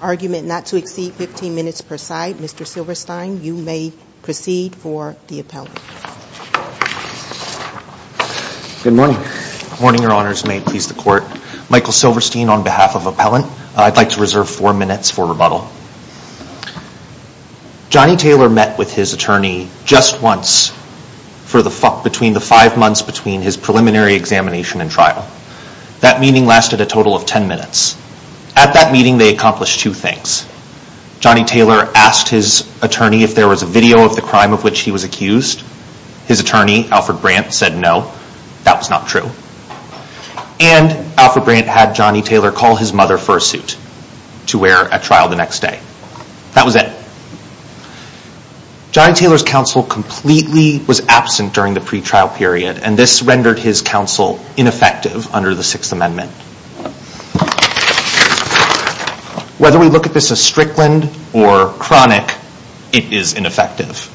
argument not to exceed 15 minutes per side. Mr. Silverstein, you may proceed for the appellant. Good morning. Good morning, Your Honors. May it please the Court. Michael Silverstein on behalf of Appellant. I'd like to reserve four minutes for rebuttal. Johnny Taylor met with his attorney just once for the five months between his preliminary examination and trial. That meeting lasted a total of ten minutes. At that meeting they accomplished two things. Johnny Taylor asked his attorney if there was a video of the crime of which he was accused. His attorney, Alfred Brandt, said no. That was not true. And Alfred Brandt had Johnny Taylor call his mother for a suit to wear at trial the next day. That was it. Johnny Taylor's counsel completely was absent during the pre-trial period. And this rendered his counsel ineffective under the Sixth Amendment. Whether we look at this as Strickland or chronic, it is ineffective.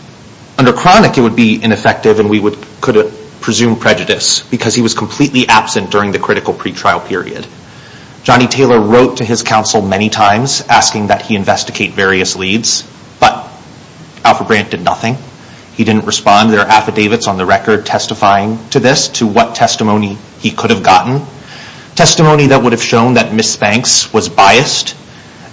Under chronic, it would be ineffective and we could presume prejudice because he was completely absent during the critical pre-trial period. Johnny Taylor wrote to his counsel many times asking that he investigate various leads, but Alfred Brandt did nothing. He didn't respond. There are affidavits on the record testifying to this, to what testimony he could have gotten. Testimony that would have shown that Ms. Banks was biased.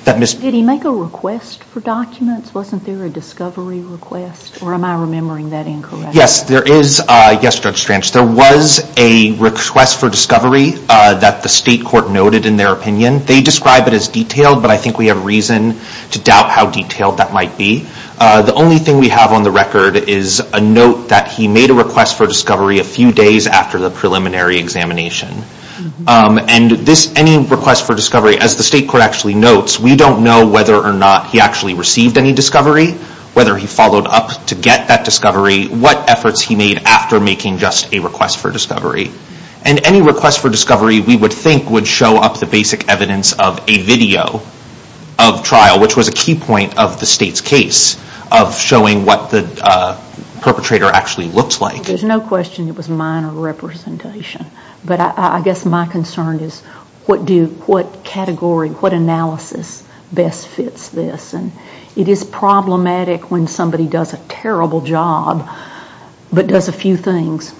Did he make a request for documents? Wasn't there a discovery request? Or am I remembering that incorrectly? Yes, Judge Strange, there was a request for discovery that the state court noted in their opinion. They describe it as detailed, but I think we have reason to doubt how detailed that might be. The only thing we have on the record is a note that he made a request for discovery a few days after the preliminary examination. Any request for discovery, as the state court actually notes, we don't know whether or not he actually received any discovery, whether he followed up to get that discovery, what efforts he made after making just a request for discovery. Any request for discovery, we would think, would show up the basic evidence of a video of trial, which was a key point of the state's case of showing what the perpetrator actually looked like. There's no question it was minor representation, but I guess my concern is what category, what analysis best fits this? It is problematic when somebody does a terrible job, but does a few things.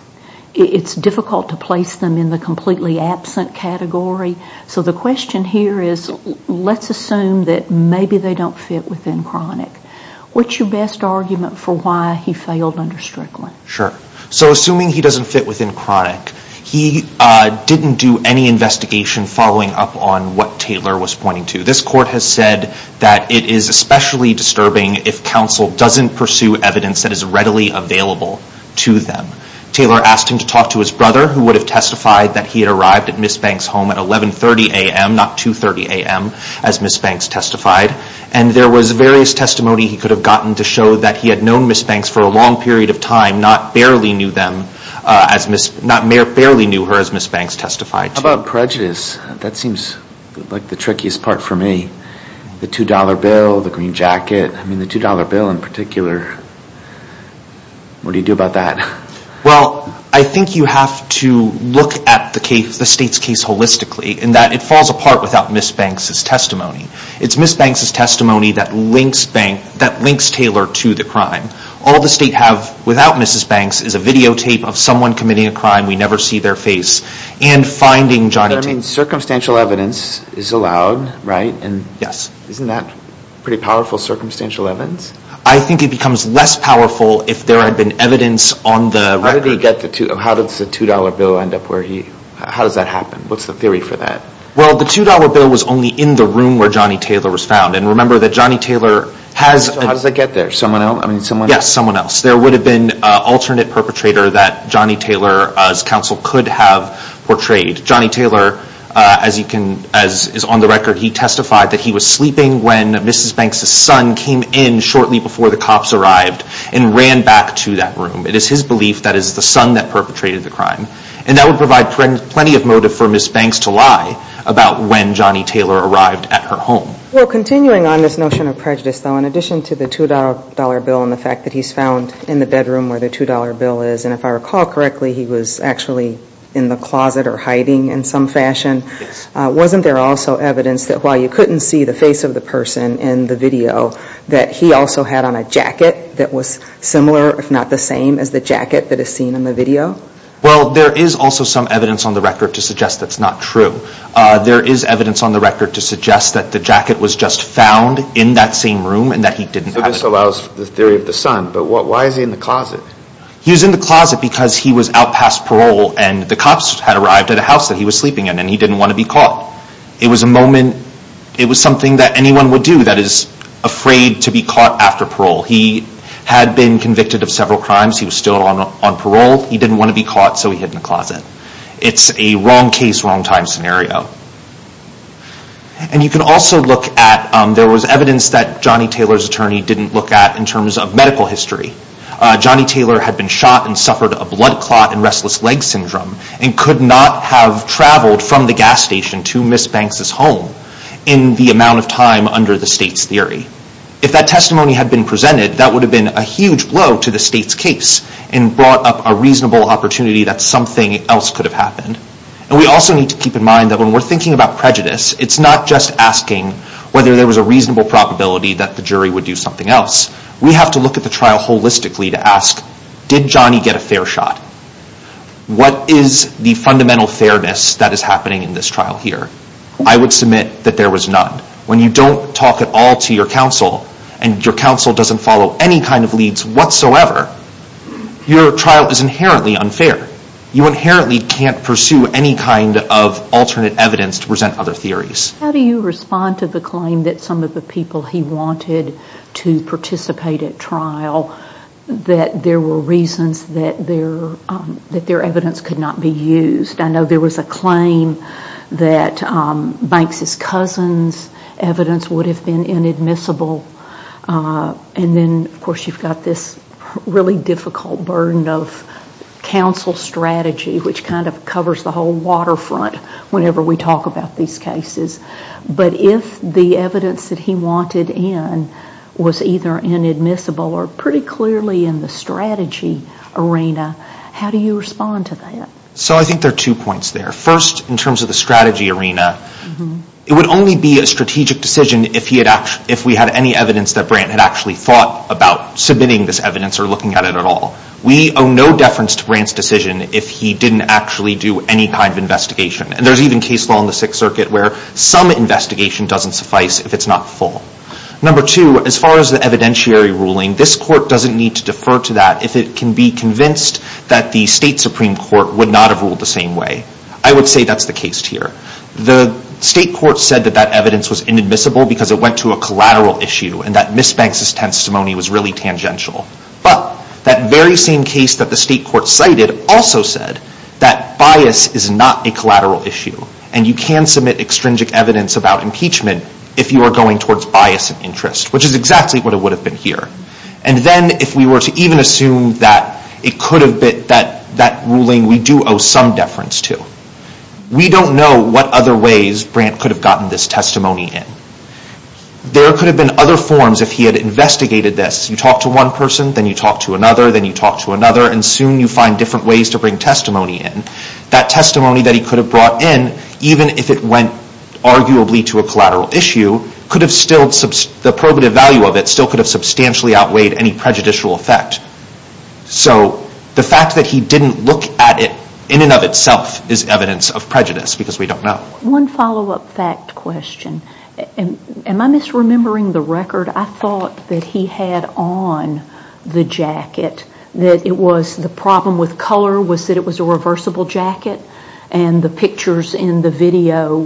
It's difficult to place them in the completely absent category, so the question here is, let's assume that maybe they don't fit within chronic. What's your best argument for why he failed under Strickland? Assuming he doesn't fit within chronic, he didn't do any investigation following up on what Taylor was pointing to. This court has said that it is especially disturbing if counsel doesn't pursue evidence that is readily available to them. Taylor asked him to talk to his brother, who would have testified that he had arrived at Ms. Banks' home at 1130 a.m., not 230 a.m., as Ms. Banks testified, and there was various testimony he could have gotten to show that he had known Ms. Banks for a long period of time, not barely knew her as Ms. Banks testified to. How about prejudice? That seems like the trickiest part for me. The $2 bill, the green jacket. I mean, the $2 bill in particular. What do you do about that? Well, I think you have to look at the state's case holistically, in that it falls apart without Ms. Banks' testimony. It's Ms. Banks' testimony that links Taylor to the crime. All the state has without Ms. Banks is a videotape of someone committing a crime, we never see their face, and finding Johnny Taylor. I mean, circumstantial evidence is allowed, right? Yes. Isn't that pretty powerful circumstantial evidence? I think it becomes less powerful if there had been evidence on the record. How did the $2 bill end up where he... How does that happen? What's the theory for that? Well, the $2 bill was only in the room where Johnny Taylor was found, and remember that Johnny Taylor has... How does that get there? Someone else? Yes, someone else. There would have been an alternate perpetrator that Johnny Taylor's counsel could have portrayed. Johnny Taylor, as is on the record, he testified that he was sleeping when Ms. Banks' son came in shortly before the cops arrived and ran back to that room. It is his belief that it is the son that perpetrated the crime. And that would provide plenty of motive for Ms. Banks to lie about when Johnny Taylor arrived at her home. Well, continuing on this notion of prejudice, though, in addition to the $2 bill and the fact that he's found in the bedroom where the $2 bill is, and if I recall correctly, he was actually in the closet or hiding in some fashion, wasn't there also evidence that while you couldn't see the face of the person in the video, that he also had on a jacket that was similar, if not the same, as the jacket that is seen in the video? Well, there is also some evidence on the record to suggest that's not true. There is evidence on the record to suggest that the jacket was just found in that same room and that he didn't have it. So this allows the theory of the son, but why is he in the closet? He was in the closet because he was out past parole and the cops had arrived at a house that he was sleeping in and he didn't want to be caught. It was a moment, it was something that anyone would do that is afraid to be caught after parole. He had been convicted of several crimes. He was still on parole. He didn't want to be caught, so he hid in the closet. It's a wrong case, wrong time scenario. And you can also look at, there was evidence that Johnny Taylor's attorney didn't look at in terms of medical history. Johnny Taylor had been shot and suffered a blood clot and restless leg syndrome and could not have traveled from the gas station to Ms. Banks' home in the amount of time under the state's theory. If that testimony had been presented, that would have been a huge blow to the state's case and brought up a reasonable opportunity that something else could have happened. And we also need to keep in mind that when we're thinking about prejudice, it's not just asking whether there was a reasonable probability that the jury would do something else. We have to look at the trial holistically to ask, did Johnny get a fair shot? What is the fundamental fairness that is happening in this trial here? I would submit that there was none. When you don't talk at all to your counsel and your counsel doesn't follow any kind of leads whatsoever, your trial is inherently unfair. You inherently can't pursue any kind of alternate evidence to present other theories. How do you respond to the claim that some of the people he wanted to participate at trial, that there were reasons that their evidence could not be used? I know there was a claim that Banks' cousin's evidence would have been inadmissible. And then, of course, you've got this really difficult burden of counsel strategy, which kind of covers the whole waterfront whenever we talk about these cases. But if the evidence that he wanted in was either inadmissible or pretty clearly in the strategy arena, how do you respond to that? So I think there are two points there. First, in terms of the strategy arena, it would only be a strategic decision if we had any evidence that Brandt had actually thought about submitting this evidence or looking at it at all. We owe no deference to Brandt's decision if he didn't actually do any kind of investigation. And there's even case law in the Sixth Circuit where some investigation doesn't suffice if it's not full. Number two, as far as the evidentiary ruling, this court doesn't need to defer to that if it can be convinced that the state Supreme Court would not have ruled the same way. I would say that's the case here. The state court said that that evidence was inadmissible because it went to a collateral issue and that Ms. Banks' testimony was really tangential. But that very same case that the state court cited also said that bias is not a collateral issue and you can submit extrinsic evidence about impeachment if you are going towards bias and interest, which is exactly what it would have been here. And then if we were to even assume that it could have been that ruling, we do owe some deference to. We don't know what other ways Brandt could have gotten this testimony in. There could have been other forms if he had investigated this. You talk to one person, then you talk to another, then you talk to another, and soon you find different ways to bring testimony in. That testimony that he could have brought in, even if it went arguably to a collateral issue, the probative value of it still could have substantially outweighed any prejudicial effect. So the fact that he didn't look at it in and of itself is evidence of prejudice because we don't know. One follow-up fact question. Am I misremembering the record? I thought that he had on the jacket that the problem with color was that it was a reversible jacket and the pictures in the video,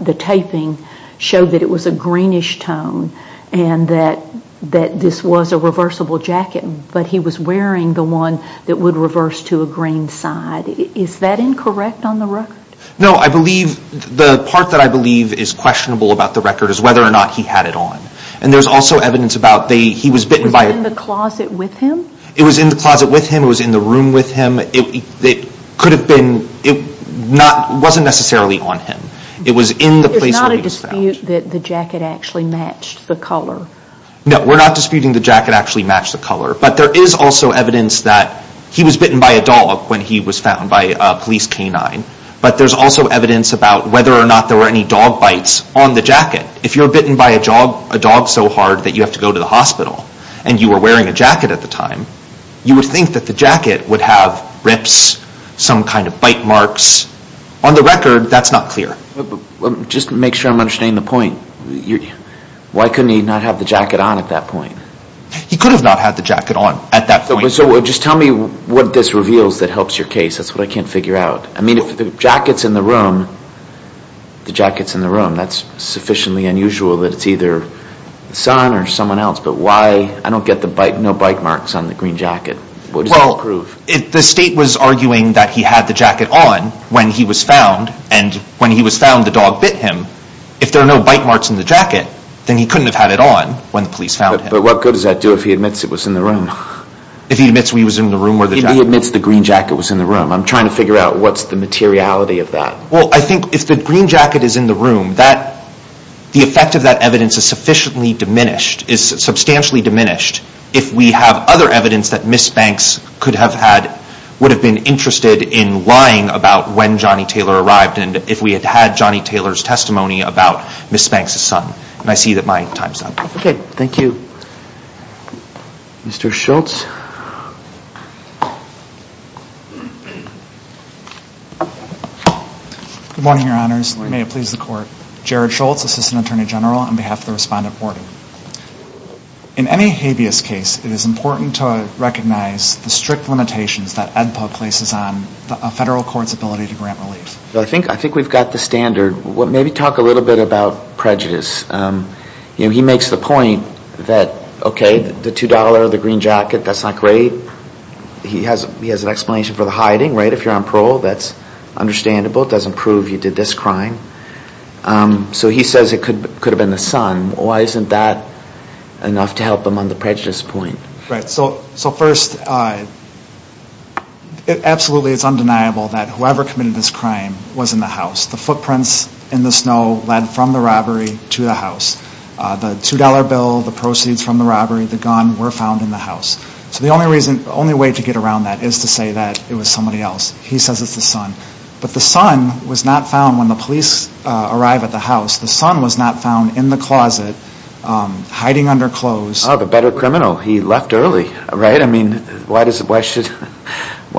the taping, showed that it was a greenish tone and that this was a reversible jacket, but he was wearing the one that would reverse to a green side. Is that incorrect on the record? No, I believe the part that I believe is questionable about the record is whether or not he had it on. And there's also evidence about he was bitten by a... Was it in the closet with him? It was in the closet with him. It was in the room with him. It could have been, it wasn't necessarily on him. It was in the place where he was found. There's not a dispute that the jacket actually matched the color. No, we're not disputing the jacket actually matched the color, but there is also evidence that he was bitten by a dog when he was found by a police canine, but there's also evidence about whether or not there were any dog bites on the jacket. If you're bitten by a dog so hard that you have to go to the hospital and you were wearing a jacket at the time, you would think that the jacket would have rips, some kind of bite marks. On the record, that's not clear. Just to make sure I'm understanding the point, why couldn't he not have the jacket on at that point? He could have not had the jacket on at that point. So just tell me what this reveals that helps your case. That's what I can't figure out. I mean, if the jacket's in the room, the jacket's in the room, that's sufficiently unusual that it's either the son or someone else, but why I don't get no bite marks on the green jacket. What does that prove? Well, the state was arguing that he had the jacket on when he was found, and when he was found, the dog bit him. If there are no bite marks in the jacket, then he couldn't have had it on when the police found him. But what good does that do if he admits it was in the room? If he admits he was in the room where the jacket was? If he admits the green jacket was in the room. I'm trying to figure out what's the materiality of that. Well, I think if the green jacket is in the room, the effect of that evidence is sufficiently diminished, is substantially diminished, if we have other evidence that Ms. Banks could have had, would have been interested in lying about when Johnny Taylor arrived and if we had had Johnny Taylor's testimony about Ms. Banks' son. And I see that my time's up. Okay, thank you. Mr. Schultz. Good morning, Your Honors. Good morning. May it please the Court. Jared Schultz, Assistant Attorney General, on behalf of the Respondent Board. In any habeas case, it is important to recognize the strict limitations that AEDPA places on a federal court's ability to grant relief. I think we've got the standard. Maybe talk a little bit about prejudice. He makes the point that, okay, the $2, the green jacket, that's not great. He has an explanation for the hiding, right? If you're on parole, that's understandable. It doesn't prove you did this crime. So he says it could have been the son. Why isn't that enough to help him on the prejudice point? Right. So first, absolutely it's undeniable that whoever committed this crime was in the house. The footprints in the snow led from the robbery to the house. The $2 bill, the proceeds from the robbery, the gun were found in the house. So the only way to get around that is to say that it was somebody else. He says it's the son. But the son was not found when the police arrived at the house. The son was not found in the closet, hiding under clothes. Oh, the better criminal. He left early, right? I mean, why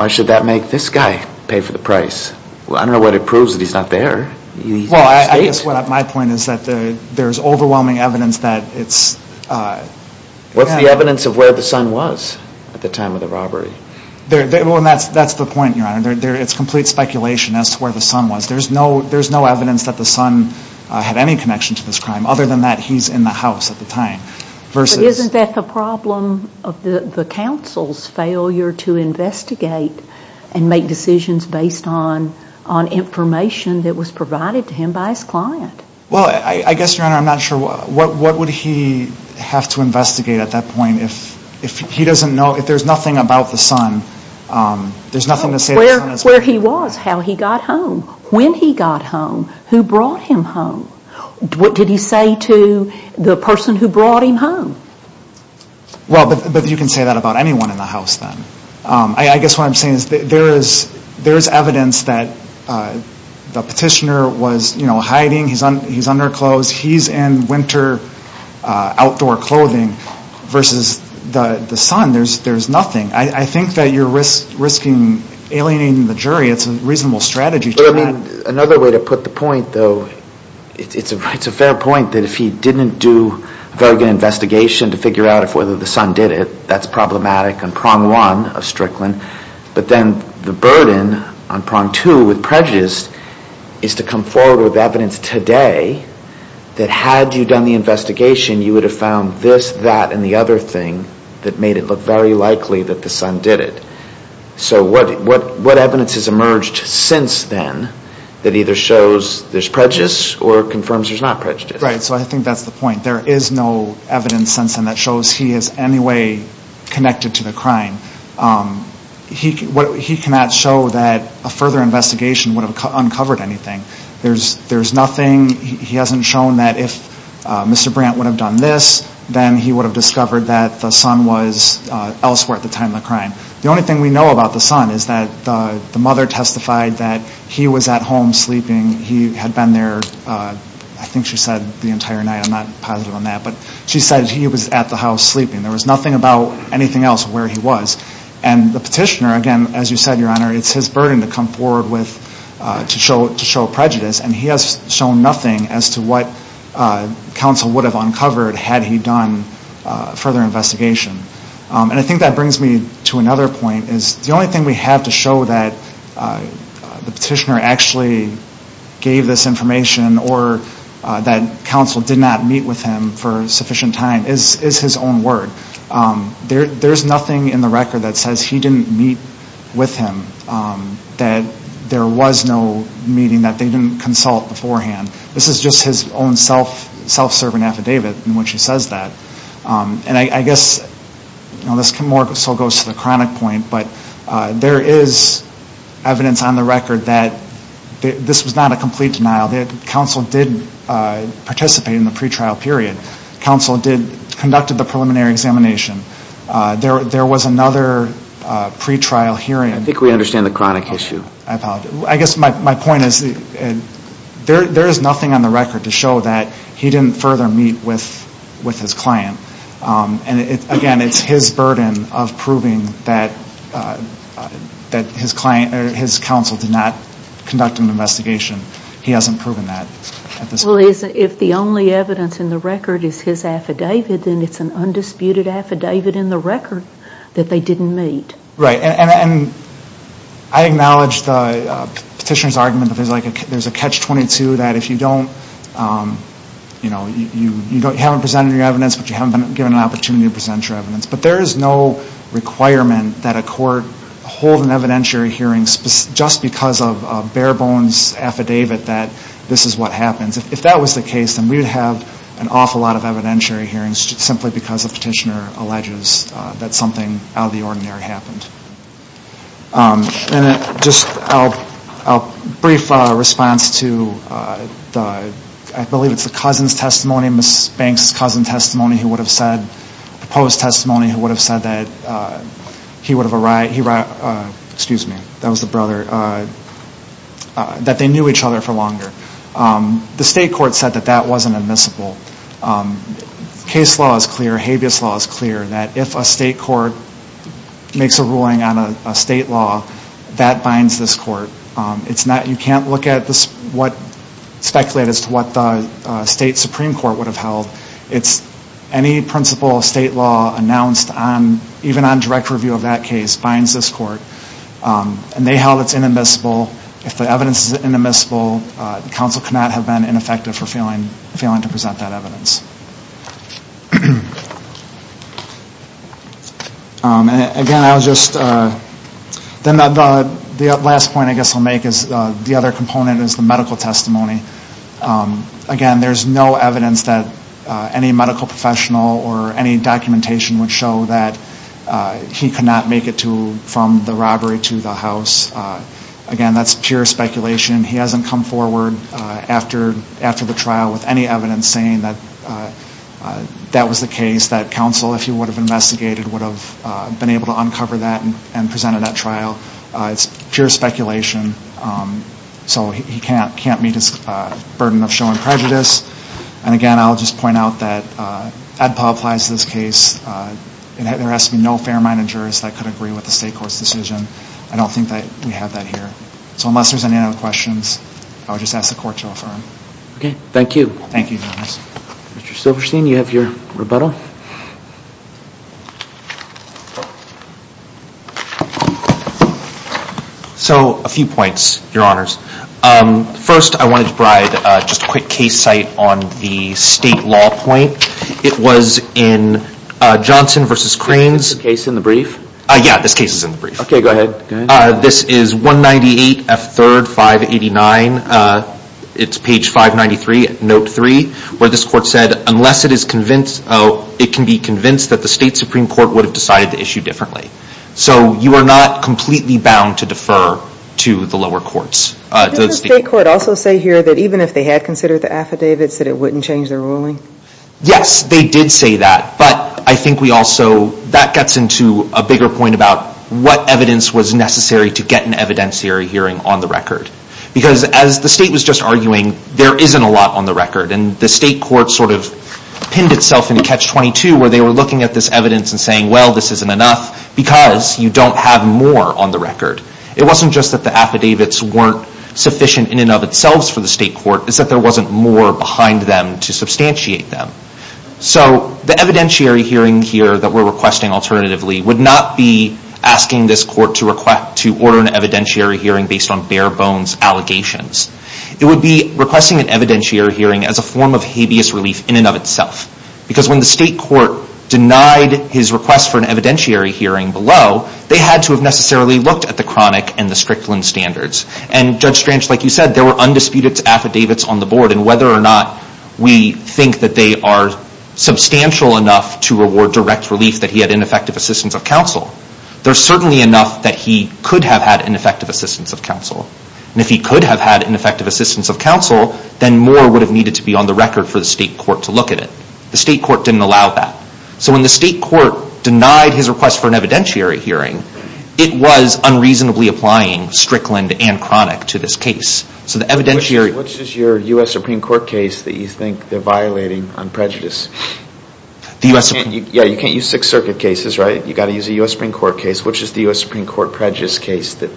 should that make this guy pay for the price? I don't know what it proves that he's not there. Well, I guess my point is that there's overwhelming evidence that it's... What's the evidence of where the son was at the time of the robbery? Well, that's the point, Your Honor. It's complete speculation as to where the son was. There's no evidence that the son had any connection to this crime, Isn't that the problem of the counsel's failure to investigate and make decisions based on information that was provided to him by his client? Well, I guess, Your Honor, I'm not sure. What would he have to investigate at that point if he doesn't know, if there's nothing about the son, there's nothing to say... Where he was, how he got home, when he got home, who brought him home. What did he say to the person who brought him home? Well, but you can say that about anyone in the house then. I guess what I'm saying is there is evidence that the petitioner was hiding. He's underclothes. He's in winter outdoor clothing versus the son. There's nothing. I think that you're risking alienating the jury. It's a reasonable strategy. Another way to put the point, though, it's a fair point that if he didn't do a very good investigation to figure out whether the son did it, that's problematic on prong one of Strickland. But then the burden on prong two with prejudice is to come forward with evidence today that had you done the investigation, you would have found this, that, and the other thing that made it look very likely that the son did it. So what evidence has emerged since then that either shows there's prejudice or confirms there's not prejudice? Right, so I think that's the point. There is no evidence since then that shows he is any way connected to the crime. He cannot show that a further investigation would have uncovered anything. There's nothing. He hasn't shown that if Mr. Brandt would have done this, then he would have discovered that the son was elsewhere at the time of the crime. The only thing we know about the son is that the mother testified that he was at home sleeping. He had been there, I think she said, the entire night. I'm not positive on that. But she said he was at the house sleeping. There was nothing about anything else where he was. And the petitioner, again, as you said, Your Honor, it's his burden to come forward to show prejudice, and he has shown nothing as to what counsel would have uncovered had he done a further investigation. And I think that brings me to another point, is the only thing we have to show that the petitioner actually gave this information or that counsel did not meet with him for sufficient time is his own word. There's nothing in the record that says he didn't meet with him, that there was no meeting, that they didn't consult beforehand. This is just his own self-serving affidavit in which he says that. And I guess this more so goes to the chronic point, but there is evidence on the record that this was not a complete denial. Counsel did participate in the pretrial period. Counsel conducted the preliminary examination. There was another pretrial hearing. I think we understand the chronic issue. I apologize. I guess my point is there is nothing on the record to show that he didn't further meet with his client. And, again, it's his burden of proving that his counsel did not conduct an investigation. He hasn't proven that at this point. Well, if the only evidence in the record is his affidavit, then it's an undisputed affidavit in the record that they didn't meet. Right. And I acknowledge the petitioner's argument that there's a catch-22, that if you don't, you know, you haven't presented your evidence, but you haven't been given an opportunity to present your evidence. But there is no requirement that a court hold an evidentiary hearing just because of a bare-bones affidavit that this is what happens. If that was the case, then we would have an awful lot of evidentiary hearings simply because a petitioner alleges that something out of the ordinary happened. And just a brief response to the, I believe it's the cousin's testimony, Ms. Banks' cousin's testimony who would have said, proposed testimony who would have said that he would have arrived, excuse me, that was the brother, that they knew each other for longer. The state court said that that wasn't admissible. Case law is clear, habeas law is clear, that if a state court makes a ruling on a state law, that binds this court. It's not, you can't look at what, speculate as to what the state supreme court would have held. It's any principle of state law announced on, even on direct review of that case, binds this court. And they held it's inadmissible. If the evidence is inadmissible, counsel cannot have been ineffective for failing to present that evidence. Again, I'll just, then the last point I guess I'll make is, the other component is the medical testimony. Again, there's no evidence that any medical professional or any documentation would show that he could not make it to, from the robbery to the house. Again, that's pure speculation. He hasn't come forward after the trial with any evidence saying that, that was the case that counsel, if he would have investigated, would have been able to uncover that and present it at trial. It's pure speculation. So he can't meet his burden of showing prejudice. And again, I'll just point out that Ed Paul applies to this case. There has to be no fair managers that could agree with the state court's decision. I don't think that we have that here. So unless there's any other questions, I would just ask the court to offer them. Okay, thank you. Thank you, Your Honor. Mr. Silverstein, you have your rebuttal. So, a few points, Your Honors. First, I wanted to provide just a quick case site on the state law point. It was in Johnson v. Cranes. Is this case in the brief? Yeah, this case is in the brief. Okay, go ahead. This is 198 F. 3rd, 589. It's page 593, note 3, where this court said, unless it can be convinced that the state supreme court would have decided to issue differently. So you are not completely bound to defer to the lower courts. Did the state court also say here that even if they had considered the affidavits, that it wouldn't change their ruling? Yes, they did say that. But I think we also, that gets into a bigger point about what evidence was necessary to get an evidentiary hearing on the record. Because as the state was just arguing, there isn't a lot on the record. And the state court sort of pinned itself into catch 22, where they were looking at this evidence and saying, well, this isn't enough, because you don't have more on the record. It wasn't just that the affidavits weren't sufficient in and of itself for the state court. It's that there wasn't more behind them to substantiate them. So the evidentiary hearing here that we're requesting alternatively would not be asking this court to order an evidentiary hearing based on bare bones allegations. It would be requesting an evidentiary hearing as a form of habeas relief in and of itself. Because when the state court denied his request for an evidentiary hearing below, they had to have necessarily looked at the chronic and the strickland standards. And Judge Stranch, like you said, there were undisputed affidavits on the board. And whether or not we think that they are substantial enough to reward direct relief that he had ineffective assistance of counsel, there's certainly enough that he could have had ineffective assistance of counsel. And if he could have had ineffective assistance of counsel, then more would have needed to be on the record for the state court to look at it. The state court didn't allow that. So when the state court denied his request for an evidentiary hearing, it was unreasonably applying strickland and chronic to this case. Which is your U.S. Supreme Court case that you think they're violating on prejudice? You can't use Sixth Circuit cases, right? You've got to use a U.S. Supreme Court case. Which is the U.S. Supreme Court prejudice case that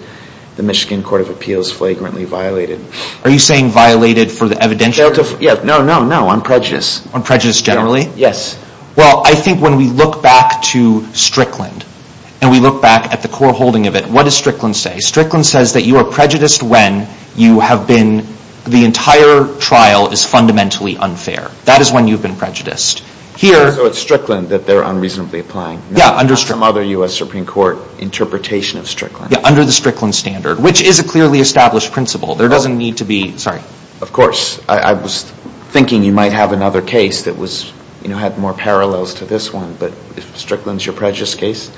the Michigan Court of Appeals flagrantly violated? Are you saying violated for the evidentiary? No, no, no, on prejudice. On prejudice generally? Yes. Well, I think when we look back to strickland, and we look back at the core holding of it, what does strickland say? Strickland says that you are prejudiced when you have been, the entire trial is fundamentally unfair. That is when you've been prejudiced. So it's strickland that they're unreasonably applying. Yeah, under strickland. Not some other U.S. Supreme Court interpretation of strickland. Yeah, under the strickland standard, which is a clearly established principle. There doesn't need to be, sorry. Of course. I was thinking you might have another case that was, you know, had more parallels to this one. But if strickland's your prejudice case,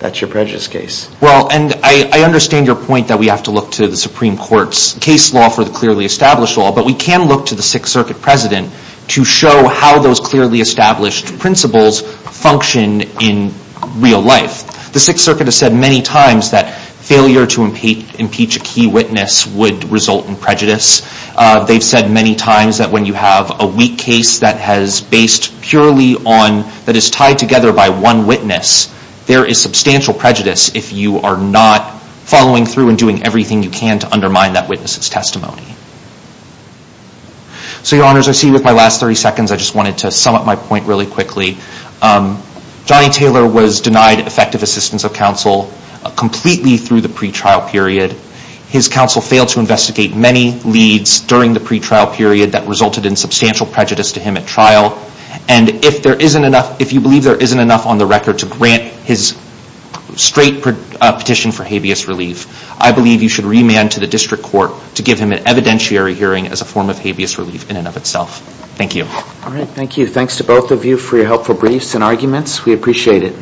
that's your prejudice case. Well, and I understand your point that we have to look to the Supreme Court's case law for the clearly established law. But we can look to the Sixth Circuit President to show how those clearly established principles function in real life. The Sixth Circuit has said many times that failure to impeach a key witness would result in prejudice. They've said many times that when you have a weak case that has based purely on, that is tied together by one witness, there is substantial prejudice if you are not following through and doing everything you can to undermine that witness's testimony. So, Your Honors, I see with my last 30 seconds, I just wanted to sum up my point really quickly. Johnny Taylor was denied effective assistance of counsel completely through the pretrial period. His counsel failed to investigate many leads during the pretrial period that resulted in substantial prejudice to him at trial. And if you believe there isn't enough on the record to grant his straight petition for habeas relief, I believe you should remand to the District Court to give him an evidentiary hearing as a form of habeas relief in and of itself. Thank you. All right, thank you. Thanks to both of you for your helpful briefs and arguments. We appreciate it.